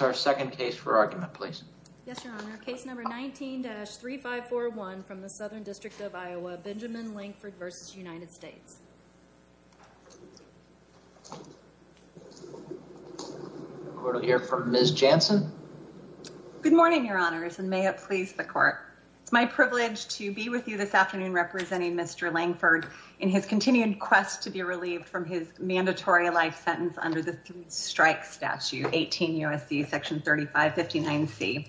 Our second case for argument, please. Yes, Your Honor. Case number 19-3541 from the Southern District of Iowa, Benjamin Langford v. United States. We'll hear from Ms. Jansen. Good morning, Your Honors, and may it please the Court. It's my privilege to be with you this afternoon representing Mr. Langford in his continued quest to be relieved from his mandatory life sentence under the Strike Statute 18 U.S.C. Section 3559-C.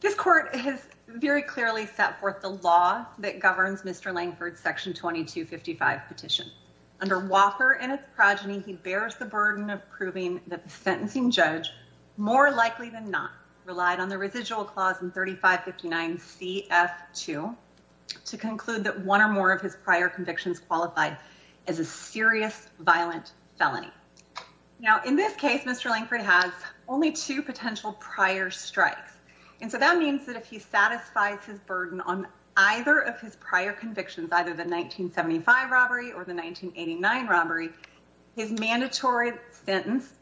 This Court has very clearly set forth the law that governs Mr. Langford's Section 2255 petition. Under Walker and its progeny, he bears the burden of proving that the sentencing judge, more likely than not, relied on the residual clause in 3559-CF2 to conclude that one or more of his prior convictions qualified as a serious violent felony. Now, in this case, Mr. Langford has only two potential prior strikes, and so that means that if he satisfies his burden on either of his prior convictions, either the 1975 robbery or the 1989 robbery, his mandatory sentence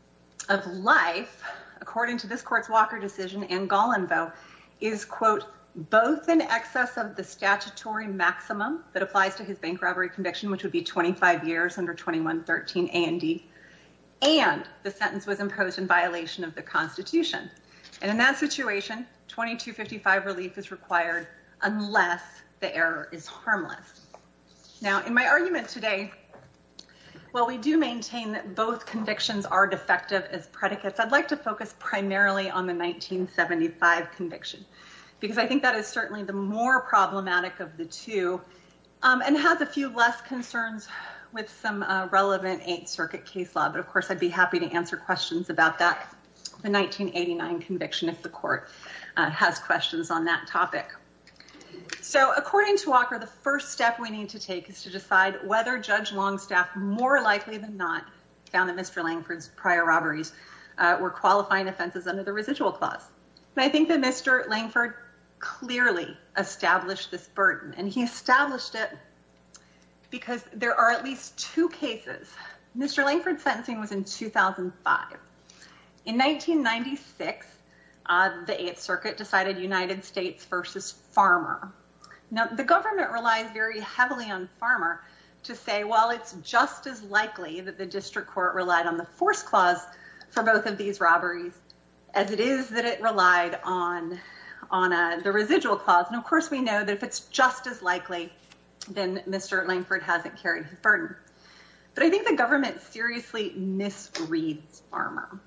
of life, according to this Court's Walker decision and Golenvoe, is, quote, both in excess of the statutory maximum that applies to his bank robbery conviction, which would be 25 years under 2113 A&E, and the sentence was imposed in violation of the Constitution. And in that situation, 2255 relief is required unless the error is harmless. Now, in my argument today, while we do maintain that both convictions are defective as predicates, I'd like to focus primarily on the 1975 conviction, because I think that is certainly the more problematic of the two and has a few less concerns with some relevant Eighth Circuit case law. But of course, I'd be happy to answer questions about that, the 1989 conviction, if the Court has questions on that topic. So, according to Walker, the first step we need to take is to decide whether Judge Longstaff, more likely than not, found that Mr. Langford's prior robberies were qualifying offenses under the residual clause. And I think that Mr. Langford clearly established this burden, and he established it because there are at least two cases. Mr. Langford's sentencing was in 2005. In 1996, the Eighth Circuit decided United States versus Farmer. Now, the government relies very heavily on Farmer to say, well, it's just as likely that the district court relied on the force clause for both of these robberies as it is that it relied on the residual clause. And of course, we know that if it's just as likely, then Mr. Langford hasn't carried the burden. But I think the government seriously misreads Farmer.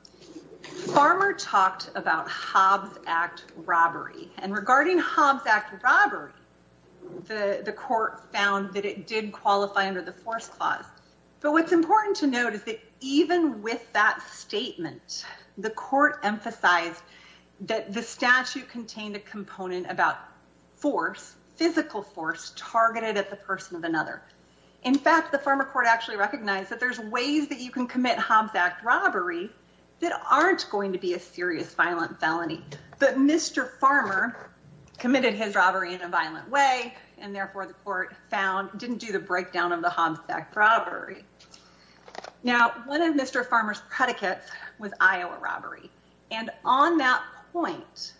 Farmer talked about Hobbs Act robbery, and regarding Hobbs Act robbery, the Court found that it did qualify under the force clause. But what's important to note is that even with that statement, the Court emphasized that the statute contained a component about force, physical force, targeted at the person of another. In fact, the Farmer Court actually recognized that there's ways that you can commit Hobbs Act robbery that aren't going to be a serious violent felony. But Mr. Farmer committed his robbery in a violent way, and therefore the Court found didn't do the breakdown of the Hobbs Act robbery. Now, one of Mr. Farmer's predicates was Iowa robbery. And on that point,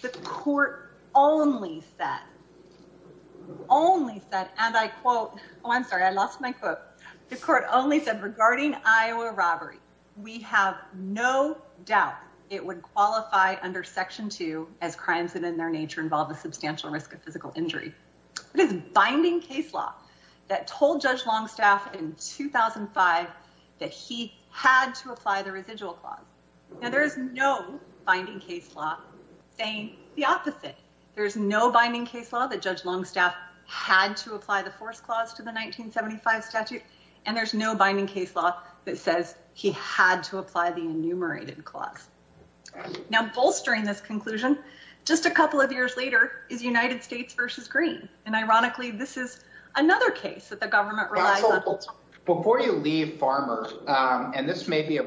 the Court only said, and I quote, oh, I'm sorry, I lost my quote. The Court only said regarding Iowa robbery, we have no doubt it would qualify under Section 2 as crimes that in their nature involve a substantial risk of physical injury. It is binding case law that told Judge Longstaff in 2005 that he had to apply the residual clause. Now, there is no binding case law saying the opposite. There's no binding case law that Judge Longstaff had to apply the force clause to the 1975 statute, and there's no binding case law that says he had to apply the enumerated clause. Now, bolstering this conclusion, just a couple of years later, is United States versus Green. And ironically, this is another case that the government relies on. Before you leave, Farmer, and this may be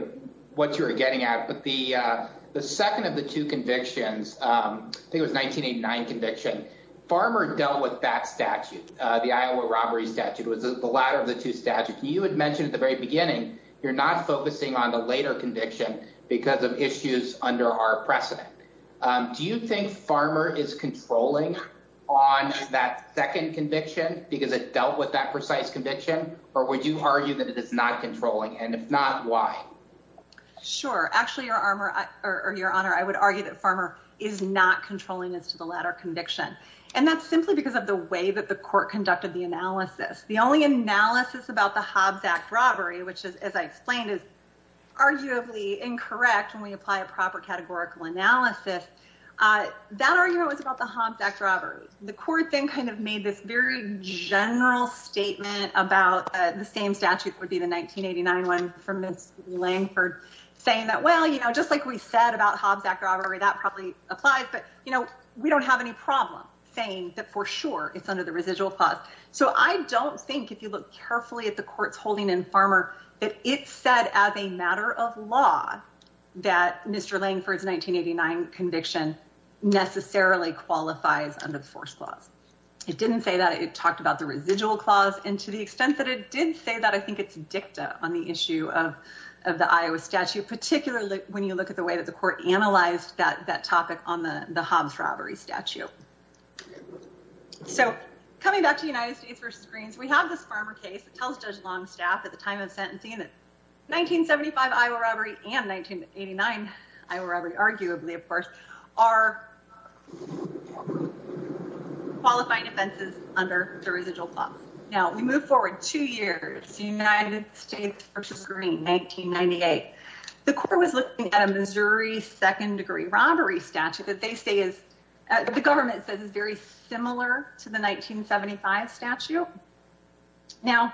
what you're getting at, but the second of the two convictions, I think it was 1989 conviction, Farmer dealt with that statute, the Iowa robbery statute was the latter of the two statutes. You had mentioned at the very beginning, you're not focusing on the later conviction because of issues under our precedent. Do you think Farmer is controlling on that second conviction because it dealt with that precise conviction? Or would you argue that it is not controlling? And if not, why? Sure. Actually, Your Honor, I would argue that Farmer is not controlling as to the latter conviction, and that's simply because of the way that the court conducted the analysis. The only analysis about the Hobbs Act robbery, which is, as I explained, is arguably incorrect when we apply a proper categorical analysis, that argument was about the Hobbs Act robbery. The court then kind of made this very general statement about the same statute would be the 1989 one from Ms. Langford, saying that, well, you know, just like we said about Hobbs Act robbery, that probably applies, but, you know, we don't have any problem saying that for sure it's under the residual clause. So I don't think if you look carefully at the court's holding in Farmer, that it said as a matter of law that Mr. Langford's 1989 conviction necessarily qualifies under the first clause. It didn't say that it talked about the residual clause and to the extent that it did say that, I think it's dicta on the issue of of the Iowa statute, particularly when you look at the way that the court analyzed that that topic on the Hobbs robbery statute. So coming back to the United States versus Greens, we have this Farmer case that tells Judge Longstaff at the time of sentencing that 1975 Iowa robbery and 1989 Iowa robbery, arguably, of course, are qualifying offenses under the residual clause. Now, we move forward two years, the United States versus Green 1998. The court was looking at a Missouri second degree robbery statute that they say is the government says is very similar to the 1975 statute. Now,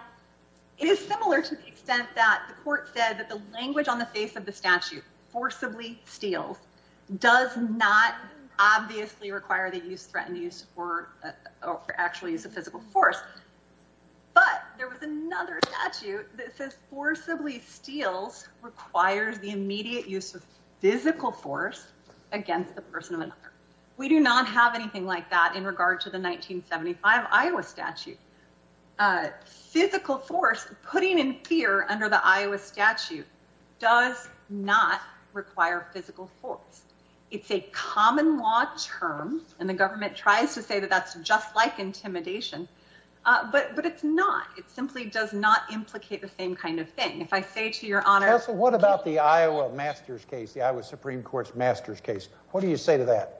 it is similar to the extent that the court said that the language on the face of the statute forcibly steals does not obviously require that use threatened use or actually is a physical force. But there was another statute that says forcibly steals requires the immediate use of physical force against the person of another. We do not have anything like that in regard to the 1975 Iowa statute. Physical force, putting in fear under the Iowa statute does not require physical force. It's a common law term and the government tries to say that that's just like intimidation, but but it's not. It simply does not implicate the same kind of thing. If I say to your honor, what about the Iowa master's case, the I was Supreme Court's master's case. What do you say to that?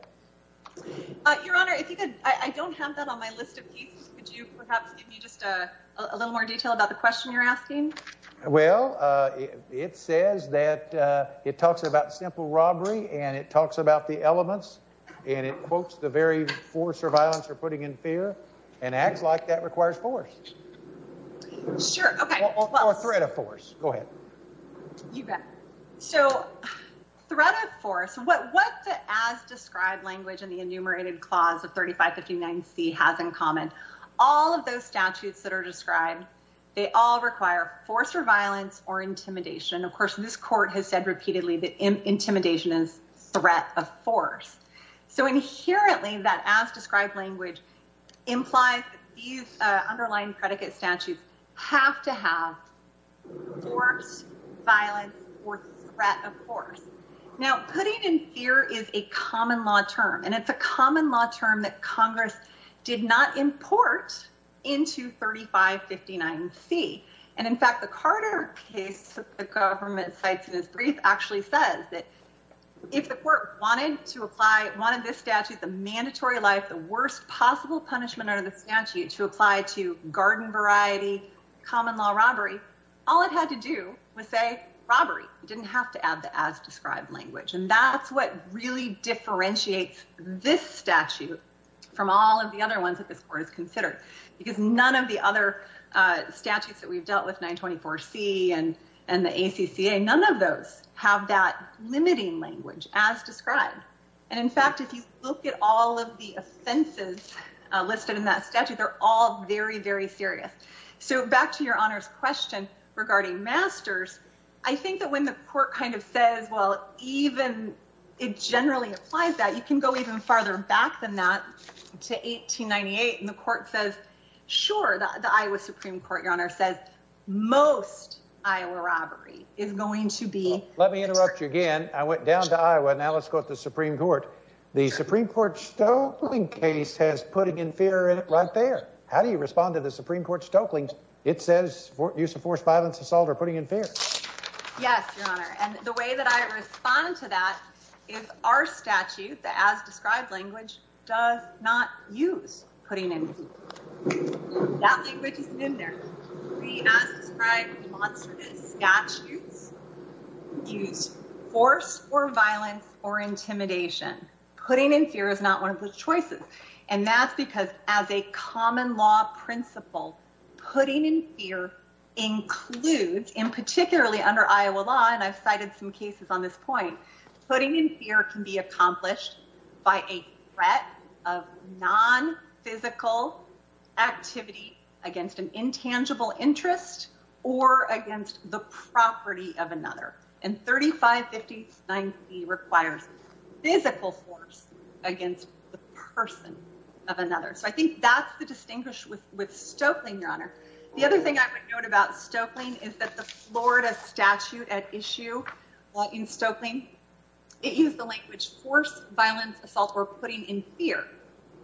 Your honor, if you could, I don't have that on my list of keys. Could you perhaps give me just a little more detail about the question you're asking? Well, it says that it talks about simple robbery and it talks about the elements and it quotes the very force or violence or putting in fear and acts like that requires force. Sure, okay, well, a threat of force. Go ahead. You bet. So threat of force. What what the as described language in the enumerated clause of 3559 C has in common. All of those statutes that are described, they all require force or violence or intimidation. Of course, this court has said repeatedly that intimidation is threat of force. So inherently, that as described language implies these underlying predicate statutes have to have force, violence or threat of force. Now, putting in fear is a common law term, and it's a common law term that Congress did not import into 3559 C. And in fact, the Carter case, the government sites in his brief actually says that if the court wanted to apply one of this statute, the mandatory life, the worst possible punishment under the statute to apply to garden variety, common law robbery, all it had to do was say robbery. And in fact, if you look at all of the offenses listed in that statute, they're all very, very serious. So back to your honors question regarding masters. I think that when the court is considering this statute, it's going to have to have the as described language, and that's what really differentiates this statute from all of the other ones that this court has considered because none of the other statutes that we've dealt with 924 C and and the ACCA, none of those have that limiting language as described and in fact, if you look at all of the offenses listed in that statute, they're all very, very serious. So back to your honors question regarding masters. I think that when the court kind of says, well, even it generally applies that you can go even farther back than that to 1898. And the court says, sure, the Iowa Supreme Court, your honor, says most Iowa robbery is going to be let me interrupt you again. I went down to Iowa. Now let's go to the Supreme Court. The Supreme Court stokeling case has putting in fear right there. How do you respond to the Supreme Court stokeling? It says use of force, violence, assault, or putting in fear. Yes, your honor. And the way that I respond to that is our statute. The as described language does not use putting in that language is in there. The as described monstrous statutes use force or violence or intimidation. Putting in fear is not one of the choices. And that's because as a common law principle, putting in fear includes in particularly under Iowa law, and I've cited some cases on this point, putting in fear can be accomplished by a threat of non physical activity against an intangible entity. It can be accomplished by a threat of physical force against an entity, whether it's against the interest or against the property of another and 3550 90 requires physical force against the person of another. So I think that's the distinguished with with stoking your honor. The other thing I would note about stoking is that the Florida statute at issue in stoking it use the language force, violence, assault, or putting in fear,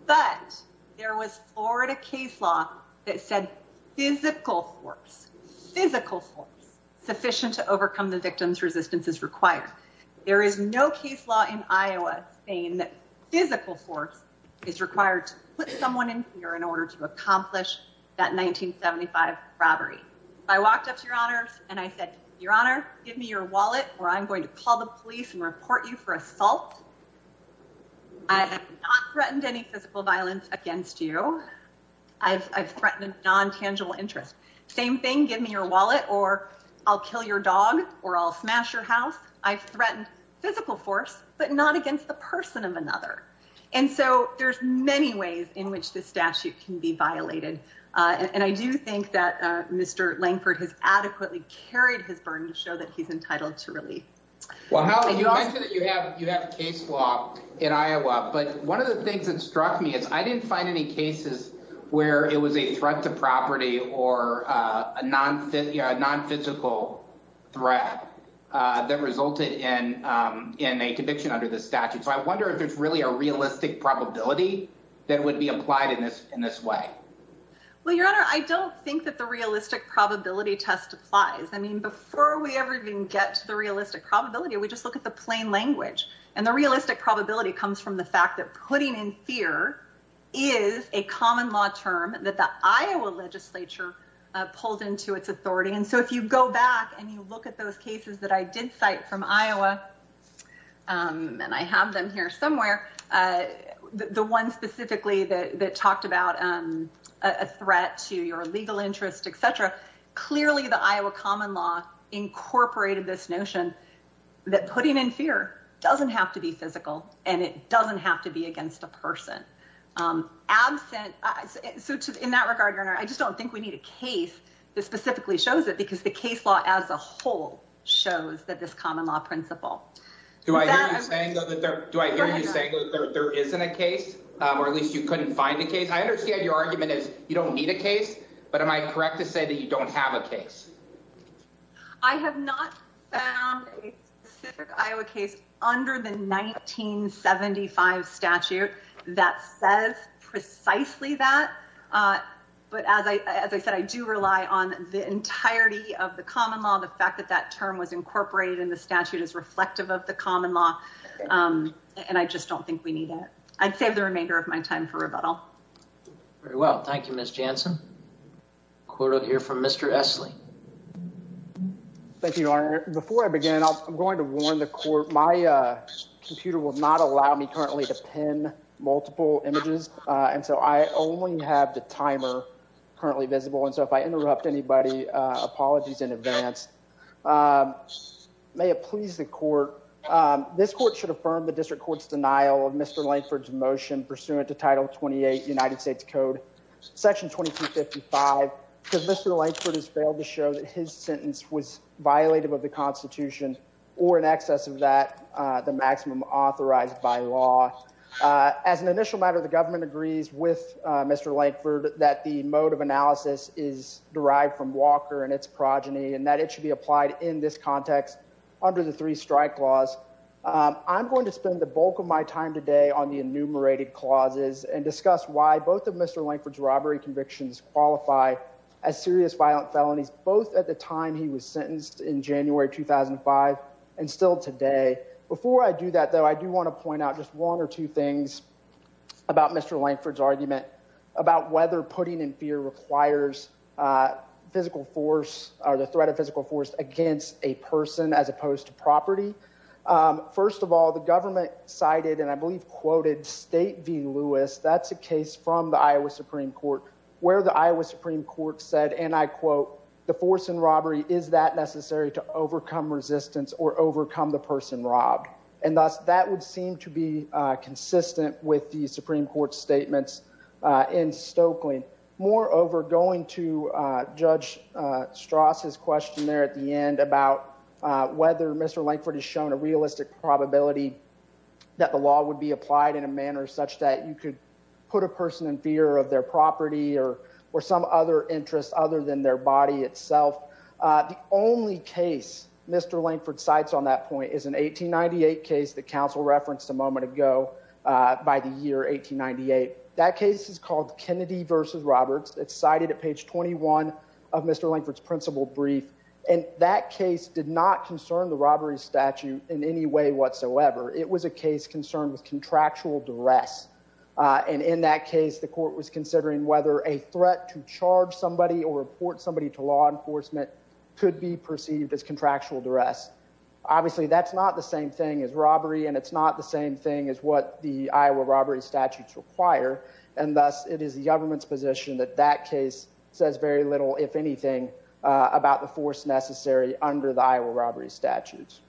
but there was Florida case law that said physical force, physical force sufficient to overcome the victims resistance is required. There is no case law in Iowa saying that physical force is required to put someone in here in order to accomplish that 1975 robbery. I walked up to your honors and I said, your honor, give me your wallet, or I'm going to call the police and report you for assault. I have not threatened any physical violence against you. I've threatened non tangible interest. Same thing. Give me your wallet or I'll kill your dog or I'll smash your house. I've threatened physical force, but not against the person of another. And so there's many ways in which the statute can be violated. And I do think that Mr Langford has adequately carried his burden to show that he's entitled to really. Well, how do you have you have case law in Iowa? But one of the things that struck me is I didn't find any cases where it was a threat to property or a non non physical threat that resulted in in a conviction under the statute. So I wonder if it's really a realistic probability that would be applied in this in this way. Well, your honor, I don't think that the realistic probability test applies. I mean, before we ever even get to the realistic probability, we just look at the plain language. And the realistic probability comes from the fact that putting in fear is a common law term that the Iowa legislature pulled into its authority. And so if you go back and you look at those cases that I did cite from Iowa, and I have them here somewhere, the one specifically that talked about a threat to your legal interest, etc. Clearly, the Iowa common law incorporated this notion that putting in fear doesn't have to be physical, and it doesn't have to be against a person absent. So in that regard, your honor, I just don't think we need a case that specifically shows it because the case law as a whole shows that this common law principle. Do I hear you saying that there isn't a case, or at least you couldn't find a case? I understand your argument is you don't need a case. But am I correct to say that you don't have a case? I have not found a specific Iowa case under the 1975 statute that says precisely that. But as I said, I do rely on the entirety of the common law. The fact that that term was incorporated in the statute is reflective of the common law. And I just don't think we need it. I'd save the remainder of my time for rebuttal. Very well. Thank you, Ms. Jansen. Quote here from Mr. Esley. Thank you, Your Honor. Before I begin, I'm going to warn the court. My computer will not allow me currently to pin multiple images, and so I only have the timer currently visible. And so if I interrupt anybody, apologies in advance. May it please the court. This court should affirm the district court's denial of Mr. Lankford's motion pursuant to Title 28 United States Code Section 2255 because Mr. Lankford has failed to show that his sentence was violative of the Constitution or in excess of that, the maximum authorized by law. As an initial matter, the government agrees with Mr. Lankford that the mode of analysis is derived from Walker and its progeny and that it should be applied in this context under the three strike laws. I'm going to spend the bulk of my time today on the enumerated clauses and discuss why both of Mr. Lankford's robbery convictions qualify as serious violent felonies, both at the time he was sentenced in January 2005 and still today. Before I do that, though, I do want to point out just one or two things about Mr. Lankford's argument about whether putting in fear requires physical force or the threat of physical force against a person as opposed to property. First of all, the government cited and I believe quoted State v. Lewis. That's a case from the Iowa Supreme Court where the Iowa Supreme Court said, and I quote, the force and robbery is that necessary to overcome resistance or overcome the person robbed. And thus, that would seem to be consistent with the Supreme Court's statements in Stokely. Moreover, going to Judge Strauss's question there at the end about whether Mr. Lankford has shown a realistic probability that the law would be applied in a manner such that you could put a person in fear of their property or some other interest other than their body itself. The only case Mr. Lankford cites on that point is an 1898 case that counsel referenced a moment ago by the year 1898. That case is called Kennedy v. Roberts. It's cited at page 21 of Mr. Lankford's principal brief. And that case did not concern the robbery statute in any way whatsoever. It was a case concerned with contractual duress. And in that case, the court was considering whether a threat to charge somebody or report somebody to law enforcement could be perceived as contractual duress. Obviously, that's not the same thing as robbery, and it's not the same thing as what the Iowa robbery statutes require. And thus, it is the government's position that that case says very little, if anything, about the force necessary under the Iowa robbery statutes.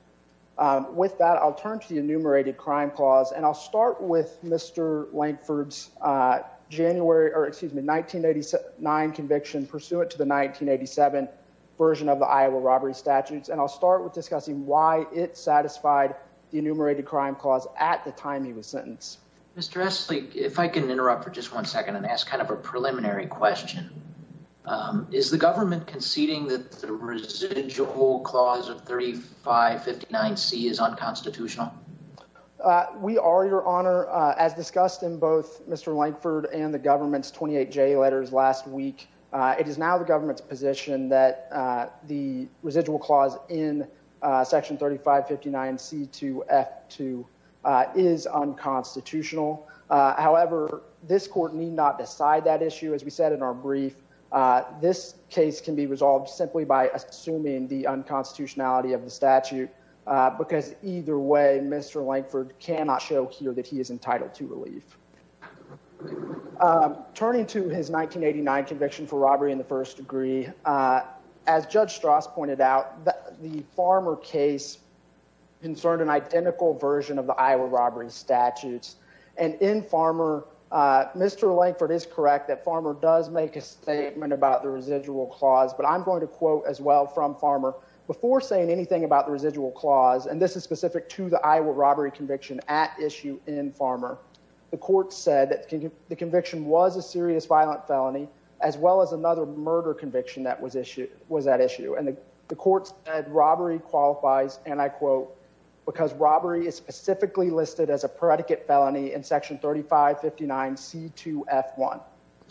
With that, I'll turn to the enumerated crime clause. And I'll start with Mr. Lankford's 1989 conviction pursuant to the 1987 version of the Iowa robbery statutes. And I'll start with discussing why it satisfied the enumerated crime clause at the time he was sentenced. Mr. Esselstyn, if I can interrupt for just one second and ask kind of a preliminary question. Is the government conceding that the residual clause of 3559C is unconstitutional? We are, Your Honor. As discussed in both Mr. Lankford and the government's 28J letters last week, it is now the government's position that the residual clause in section 3559C2F2 is unconstitutional. However, this court need not decide that issue. As we said in our brief, this case can be resolved simply by assuming the unconstitutionality of the statute, because either way, Mr. Lankford cannot show here that he is entitled to relief. Turning to his 1989 conviction for robbery in the first degree, as Judge Strauss pointed out, the Farmer case concerned an identical version of the Iowa robbery statutes. And in Farmer, Mr. Lankford is correct that Farmer does make a statement about the residual clause. But I'm going to quote as well from Farmer before saying anything about the residual clause. And this is specific to the Iowa robbery conviction at issue in Farmer. The court said that the conviction was a serious violent felony, as well as another murder conviction that was at issue. And the court said robbery qualifies, and I quote, because robbery is specifically listed as a predicate felony in section 3559C2F1.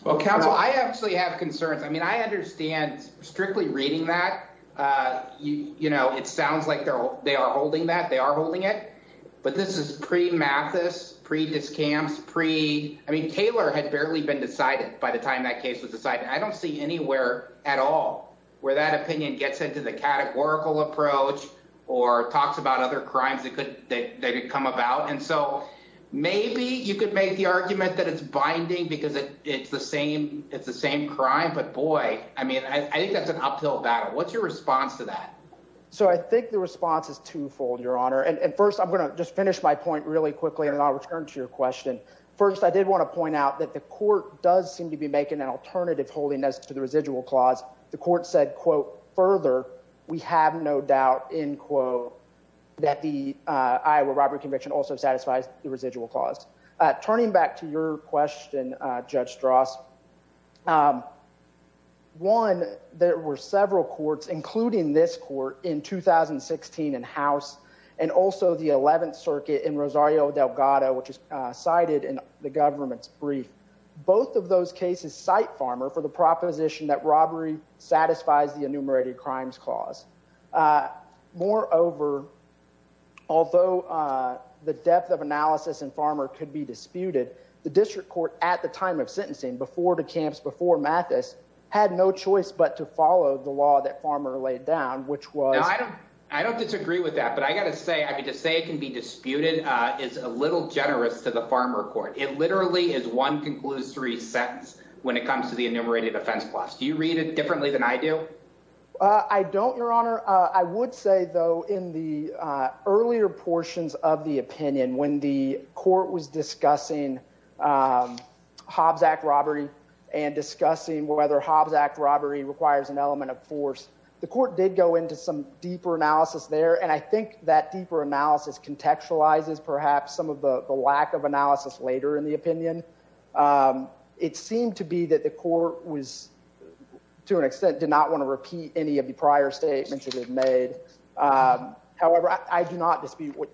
Well, counsel, I actually have concerns. I mean, I understand strictly reading that, you know, it sounds like they are holding that, they are holding it. But this is pre-Mathis, pre-Discamps. I mean, Taylor had barely been decided by the time that case was decided. I don't see anywhere at all where that opinion gets into the categorical approach or talks about other crimes that could come about. And so maybe you could make the argument that it's an uphill battle. What's your response to that? So I think the response is twofold, Your Honor. And first, I'm going to just finish my point really quickly and then I'll return to your question. First, I did want to point out that the court does seem to be making an alternative holiness to the residual clause. The court said, quote, further, we have no doubt, end quote, that the Iowa robbery conviction also satisfies the residual clause. Turning back to your question, Judge Strauss, one, there were several courts, including this court in 2016 in House and also the 11th Circuit in Rosario Delgado, which is cited in the government's brief. Both of those cases cite Farmer for the proposition that robbery satisfies the enumerated crimes clause. Moreover, although the depth of analysis in Farmer could be disputed, the district court at the time of sentencing before the camps before Mathis had no choice but to follow the law that Farmer laid down, which was. I don't disagree with that, but I got to say, I mean, to say it can be disputed is a little generous to the Farmer court. It literally is one concludes three sentence when it comes to the enumerated offense clause. Do you read it differently than I do? I don't, Your Honor. I would say, though, in the earlier portions of the opinion, when the court was discussing Hobbs Act robbery and discussing whether Hobbs Act robbery requires an element of force, the court did go into some deeper analysis there. And I think that deeper analysis contextualizes perhaps some of the lack of analysis later in the opinion. It seemed to be that the court was to an extent did not want to repeat any of the prior statements that it made. However, I do not dispute what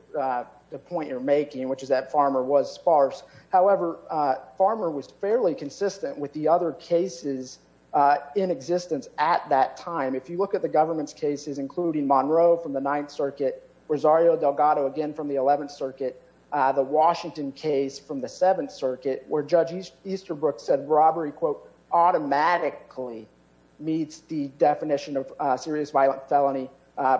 the point you're making, which is that Farmer was sparse. However, Farmer was fairly consistent with the other cases in existence at that time. If you look at the government's cases, including Monroe from the Ninth Circuit, Rosario Delgado, again from the Eleventh Circuit, the Washington case from the Seventh Circuit, where Judge Easterbrook said robbery quote automatically meets the definition of serious violent felony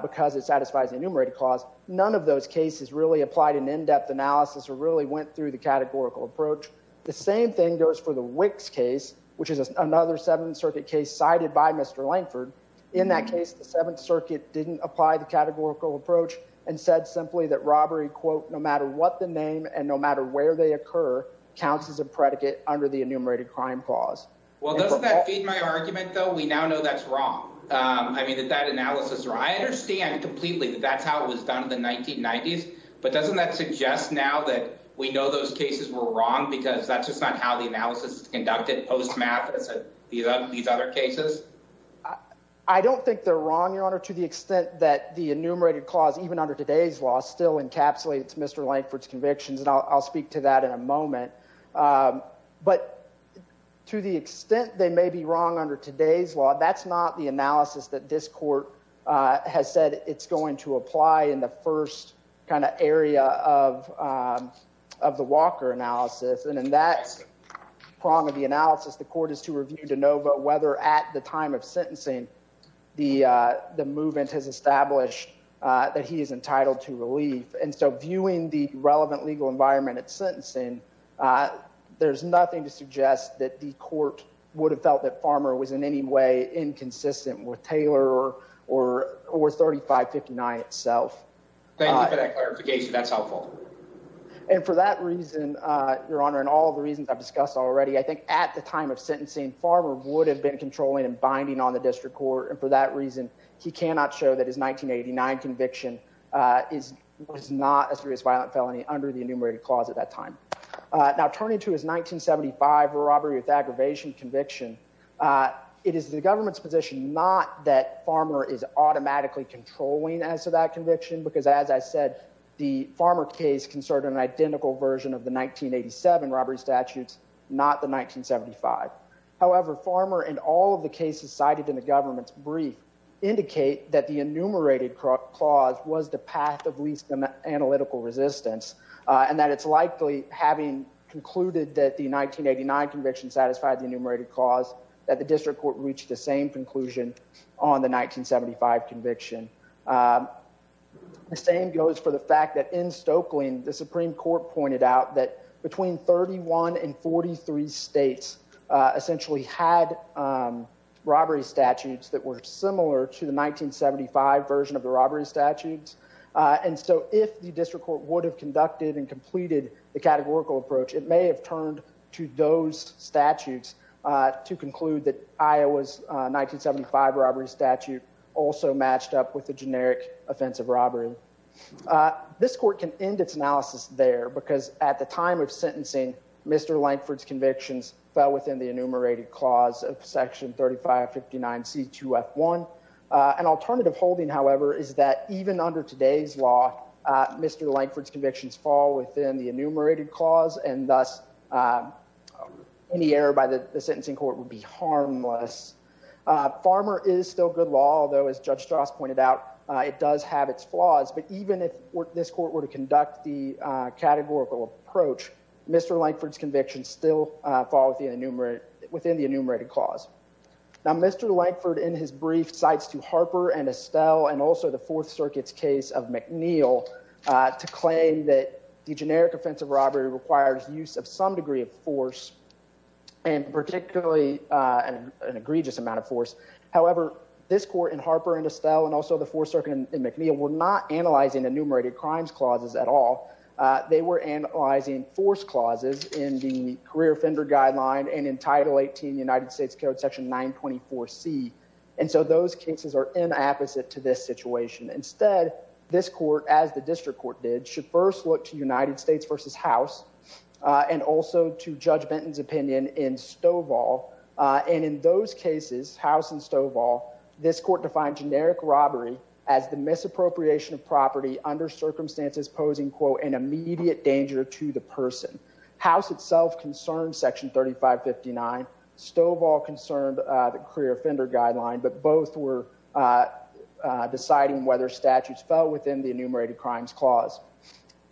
because it satisfies the enumerated clause. None of those cases really applied an in-depth analysis or really went through the categorical approach. The same thing goes for the Wicks case, which is another Seventh Circuit case cited by Mr. Langford. In that case, the Seventh Circuit didn't apply the categorical approach and said simply that robbery, quote, no matter what the name and no matter where they occur, counts as a predicate under the enumerated crime clause. Well, doesn't that feed my argument, though? We now know that's wrong. I mean, that that analysis or I understand completely that that's how it was done in the 1990s. But doesn't that suggest now that we know those cases were wrong because that's just not how the analysis is conducted post-math as these other cases? I don't think they're wrong, Your Honor, to the extent that the enumerated clause, even under today's law, still encapsulates Mr. Langford's convictions. And I'll speak to that in a moment. But to the extent they may be wrong under today's law, that's not the analysis that this court has said it's going to apply in the first kind of area of of the Walker analysis. And in that prong of the analysis, the court is to to know whether at the time of sentencing, the the movement has established that he is entitled to relief. And so viewing the relevant legal environment at sentencing, there's nothing to suggest that the court would have felt that Farmer was in any way inconsistent with Taylor or or 3559 itself. Thank you for that clarification. That's helpful. And for that reason, Your Honor, and all reasons I've discussed already, I think at the time of sentencing, Farmer would have been controlling and binding on the district court. And for that reason, he cannot show that his 1989 conviction is was not a serious violent felony under the enumerated clause at that time. Now, turning to his 1975 robbery with aggravation conviction, it is the government's position not that Farmer is automatically controlling as to that conviction, because as I said, the Farmer case concerned an identical version of the 1987 robbery statutes, not the 1975. However, Farmer and all of the cases cited in the government's brief indicate that the enumerated clause was the path of least analytical resistance and that it's likely having concluded that the 1989 conviction satisfied the enumerated cause that the district court reached the same conclusion on the 1975 conviction. The same goes for the fact that in Stokelyn, the Supreme Court pointed out that between 31 and 43 states essentially had robbery statutes that were similar to the 1975 version of the robbery statutes. And so if the district court would have conducted and completed the categorical approach, it may have turned to those statutes to conclude that Iowa's 1975 robbery statute also matched up with the generic offensive robbery. This court can end its analysis there, because at the time of sentencing, Mr. Lankford's convictions fell within the enumerated clause of section 3559c2f1. An alternative holding, however, is that even under today's law, Mr. Lankford's convictions fall within the enumerated clause, and thus any error by the sentencing court would be harmless. Farmer is still good law, although as Judge Strauss pointed out, it does have its flaws. But even if this court were to conduct the categorical approach, Mr. Lankford's convictions still fall within the enumerated clause. Now, Mr. Lankford in his brief cites to Harper and Estelle and also the Fourth Circuit's of McNeill to claim that the generic offensive robbery requires use of some degree of force, and particularly an egregious amount of force. However, this court in Harper and Estelle and also the Fourth Circuit in McNeill were not analyzing enumerated crimes clauses at all. They were analyzing force clauses in the career offender guideline and in Title 18 United States Code section 924c. And so those cases are in opposite to this situation. Instead, this court, as the district court did, should first look to United States versus House and also to Judge Benton's opinion in Stovall. And in those cases, House and Stovall, this court defined generic robbery as the misappropriation of property under circumstances posing, quote, an immediate danger to the person. House itself concerned section 3559. Stovall concerned the career offender guideline, but both were deciding whether statutes fell within the enumerated crimes clause.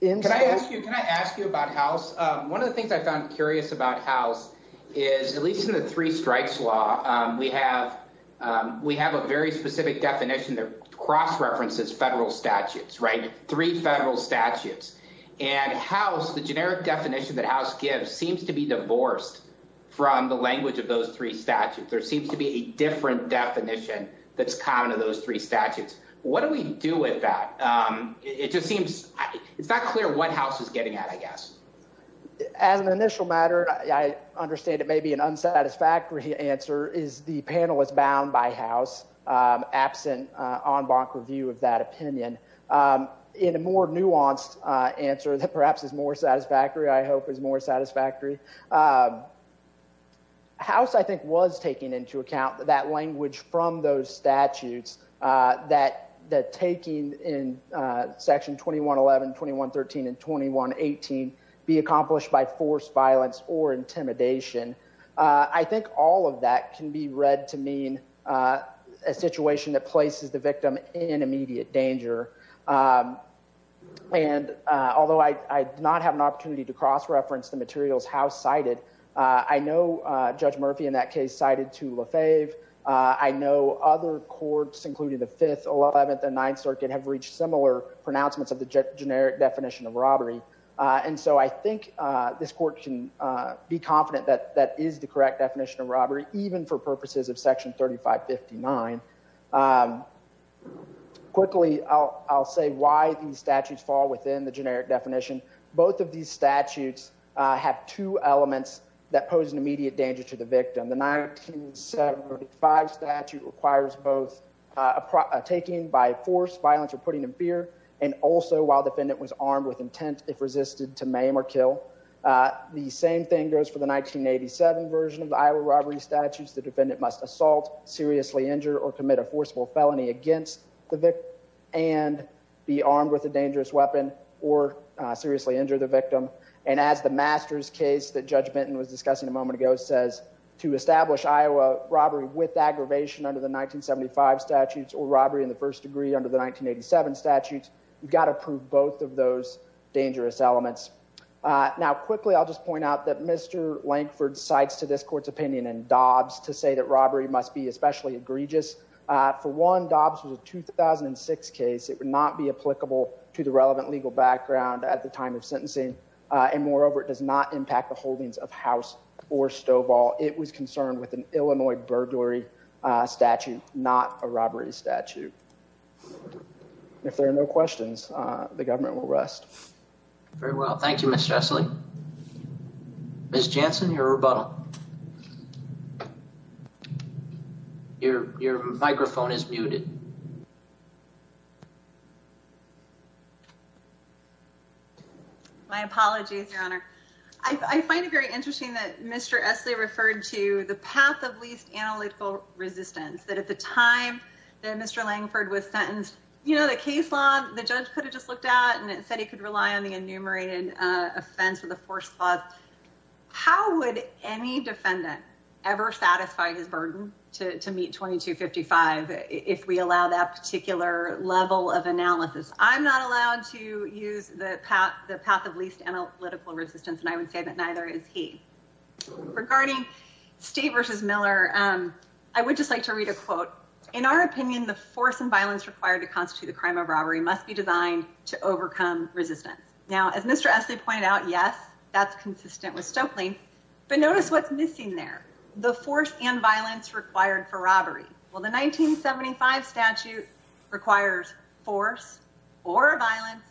Can I ask you about House? One of the things I found curious about House is, at least in the three strikes law, we have a very specific definition that cross-references federal crime. The generic definition that House gives seems to be divorced from the language of those three statutes. There seems to be a different definition that's common to those three statutes. What do we do with that? It just seems it's not clear what House is getting at, I guess. As an initial matter, I understand it may be an unsatisfactory answer, is the panel is bound by I hope is more satisfactory. House, I think, was taking into account that language from those statutes that taking in section 2111, 2113, and 2118 be accomplished by forced violence or intimidation. I think all of that can be read to mean a situation that places the victim in immediate danger. Although I do not have an opportunity to cross-reference the materials House cited, I know Judge Murphy in that case cited Tula Fave. I know other courts, including the Fifth, Eleventh, and Ninth Circuit have reached similar pronouncements of the generic definition of robbery. I think this court can be confident that that is the correct definition of robbery, even for purposes of section 3559. Quickly, I'll say why these statutes fall within the generic definition. Both of these statutes have two elements that pose an immediate danger to the victim. The 1975 statute requires both taking by force, violence or putting in fear, and also while defendant was armed with intent if resisted to maim or kill. The same thing goes for the 1987 version of the Iowa robbery statutes. The defendant must assault, seriously injure, or commit a forcible felony against the victim and be armed with a dangerous weapon or seriously injure the victim. And as the Masters case that Judge Benton was discussing a moment ago says, to establish Iowa robbery with aggravation under the 1975 statutes or robbery in the first degree under the 1987 statutes, you've got to prove both of those dangerous elements. Now quickly, I'll just point out that Mr. Lankford cites to this court's opinion and Dobbs to say that robbery must be especially egregious. For one, Dobbs was a 2006 case. It would not be applicable to the relevant legal background at the time of sentencing. And moreover, it does not impact the holdings of House or Stovall. It was concerned with an Illinois burglary statute, not a robbery statute. And if there are no questions, the government will rest. Very well. Thank you, Mr. Essley. Ms. Jansen, your rebuttal. Your microphone is muted. My apologies, Your Honor. I find it very interesting that Mr. Essley referred to the path of least analytical resistance, that at the time that Mr. Lankford was sentenced, you know, the case law, the judge could have just looked at and it said he could rely on the enumerated offense with a forced clause. How would any defendant ever satisfy his burden to meet 2255 if we allow that particular level of analysis? I'm not allowed to use the path of least analytical resistance, and I would say that neither is he. Regarding State v. Miller, I would just like to read a quote. In our opinion, the force and violence required to constitute a crime of robbery must be designed to overcome resistance. Now, as Mr. Essley pointed out, yes, that's consistent with Stoeckling. But notice what's missing there. The force and violence required for robbery. Well, the 1975 statute requires force or violence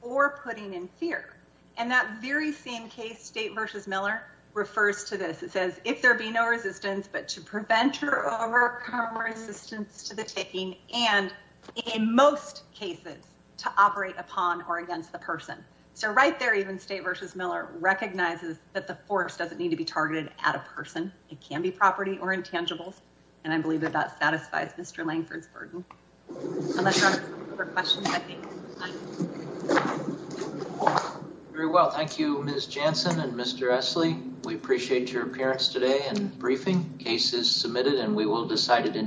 or putting in fear. And that very same case, State v. Miller, refers to this. It says, if there be no resistance, but to prevent or overcome resistance to the taking, and in most cases to operate upon or against the person. So right there, even State v. Miller recognizes that the force doesn't need to be targeted at a person. It can be property or intangibles. And I believe that that satisfies Mr. Langford's burden. Very well. Thank you, Ms. Jansen and Mr. Essley. We appreciate your appearance today and briefing. Case is submitted and we will decide it in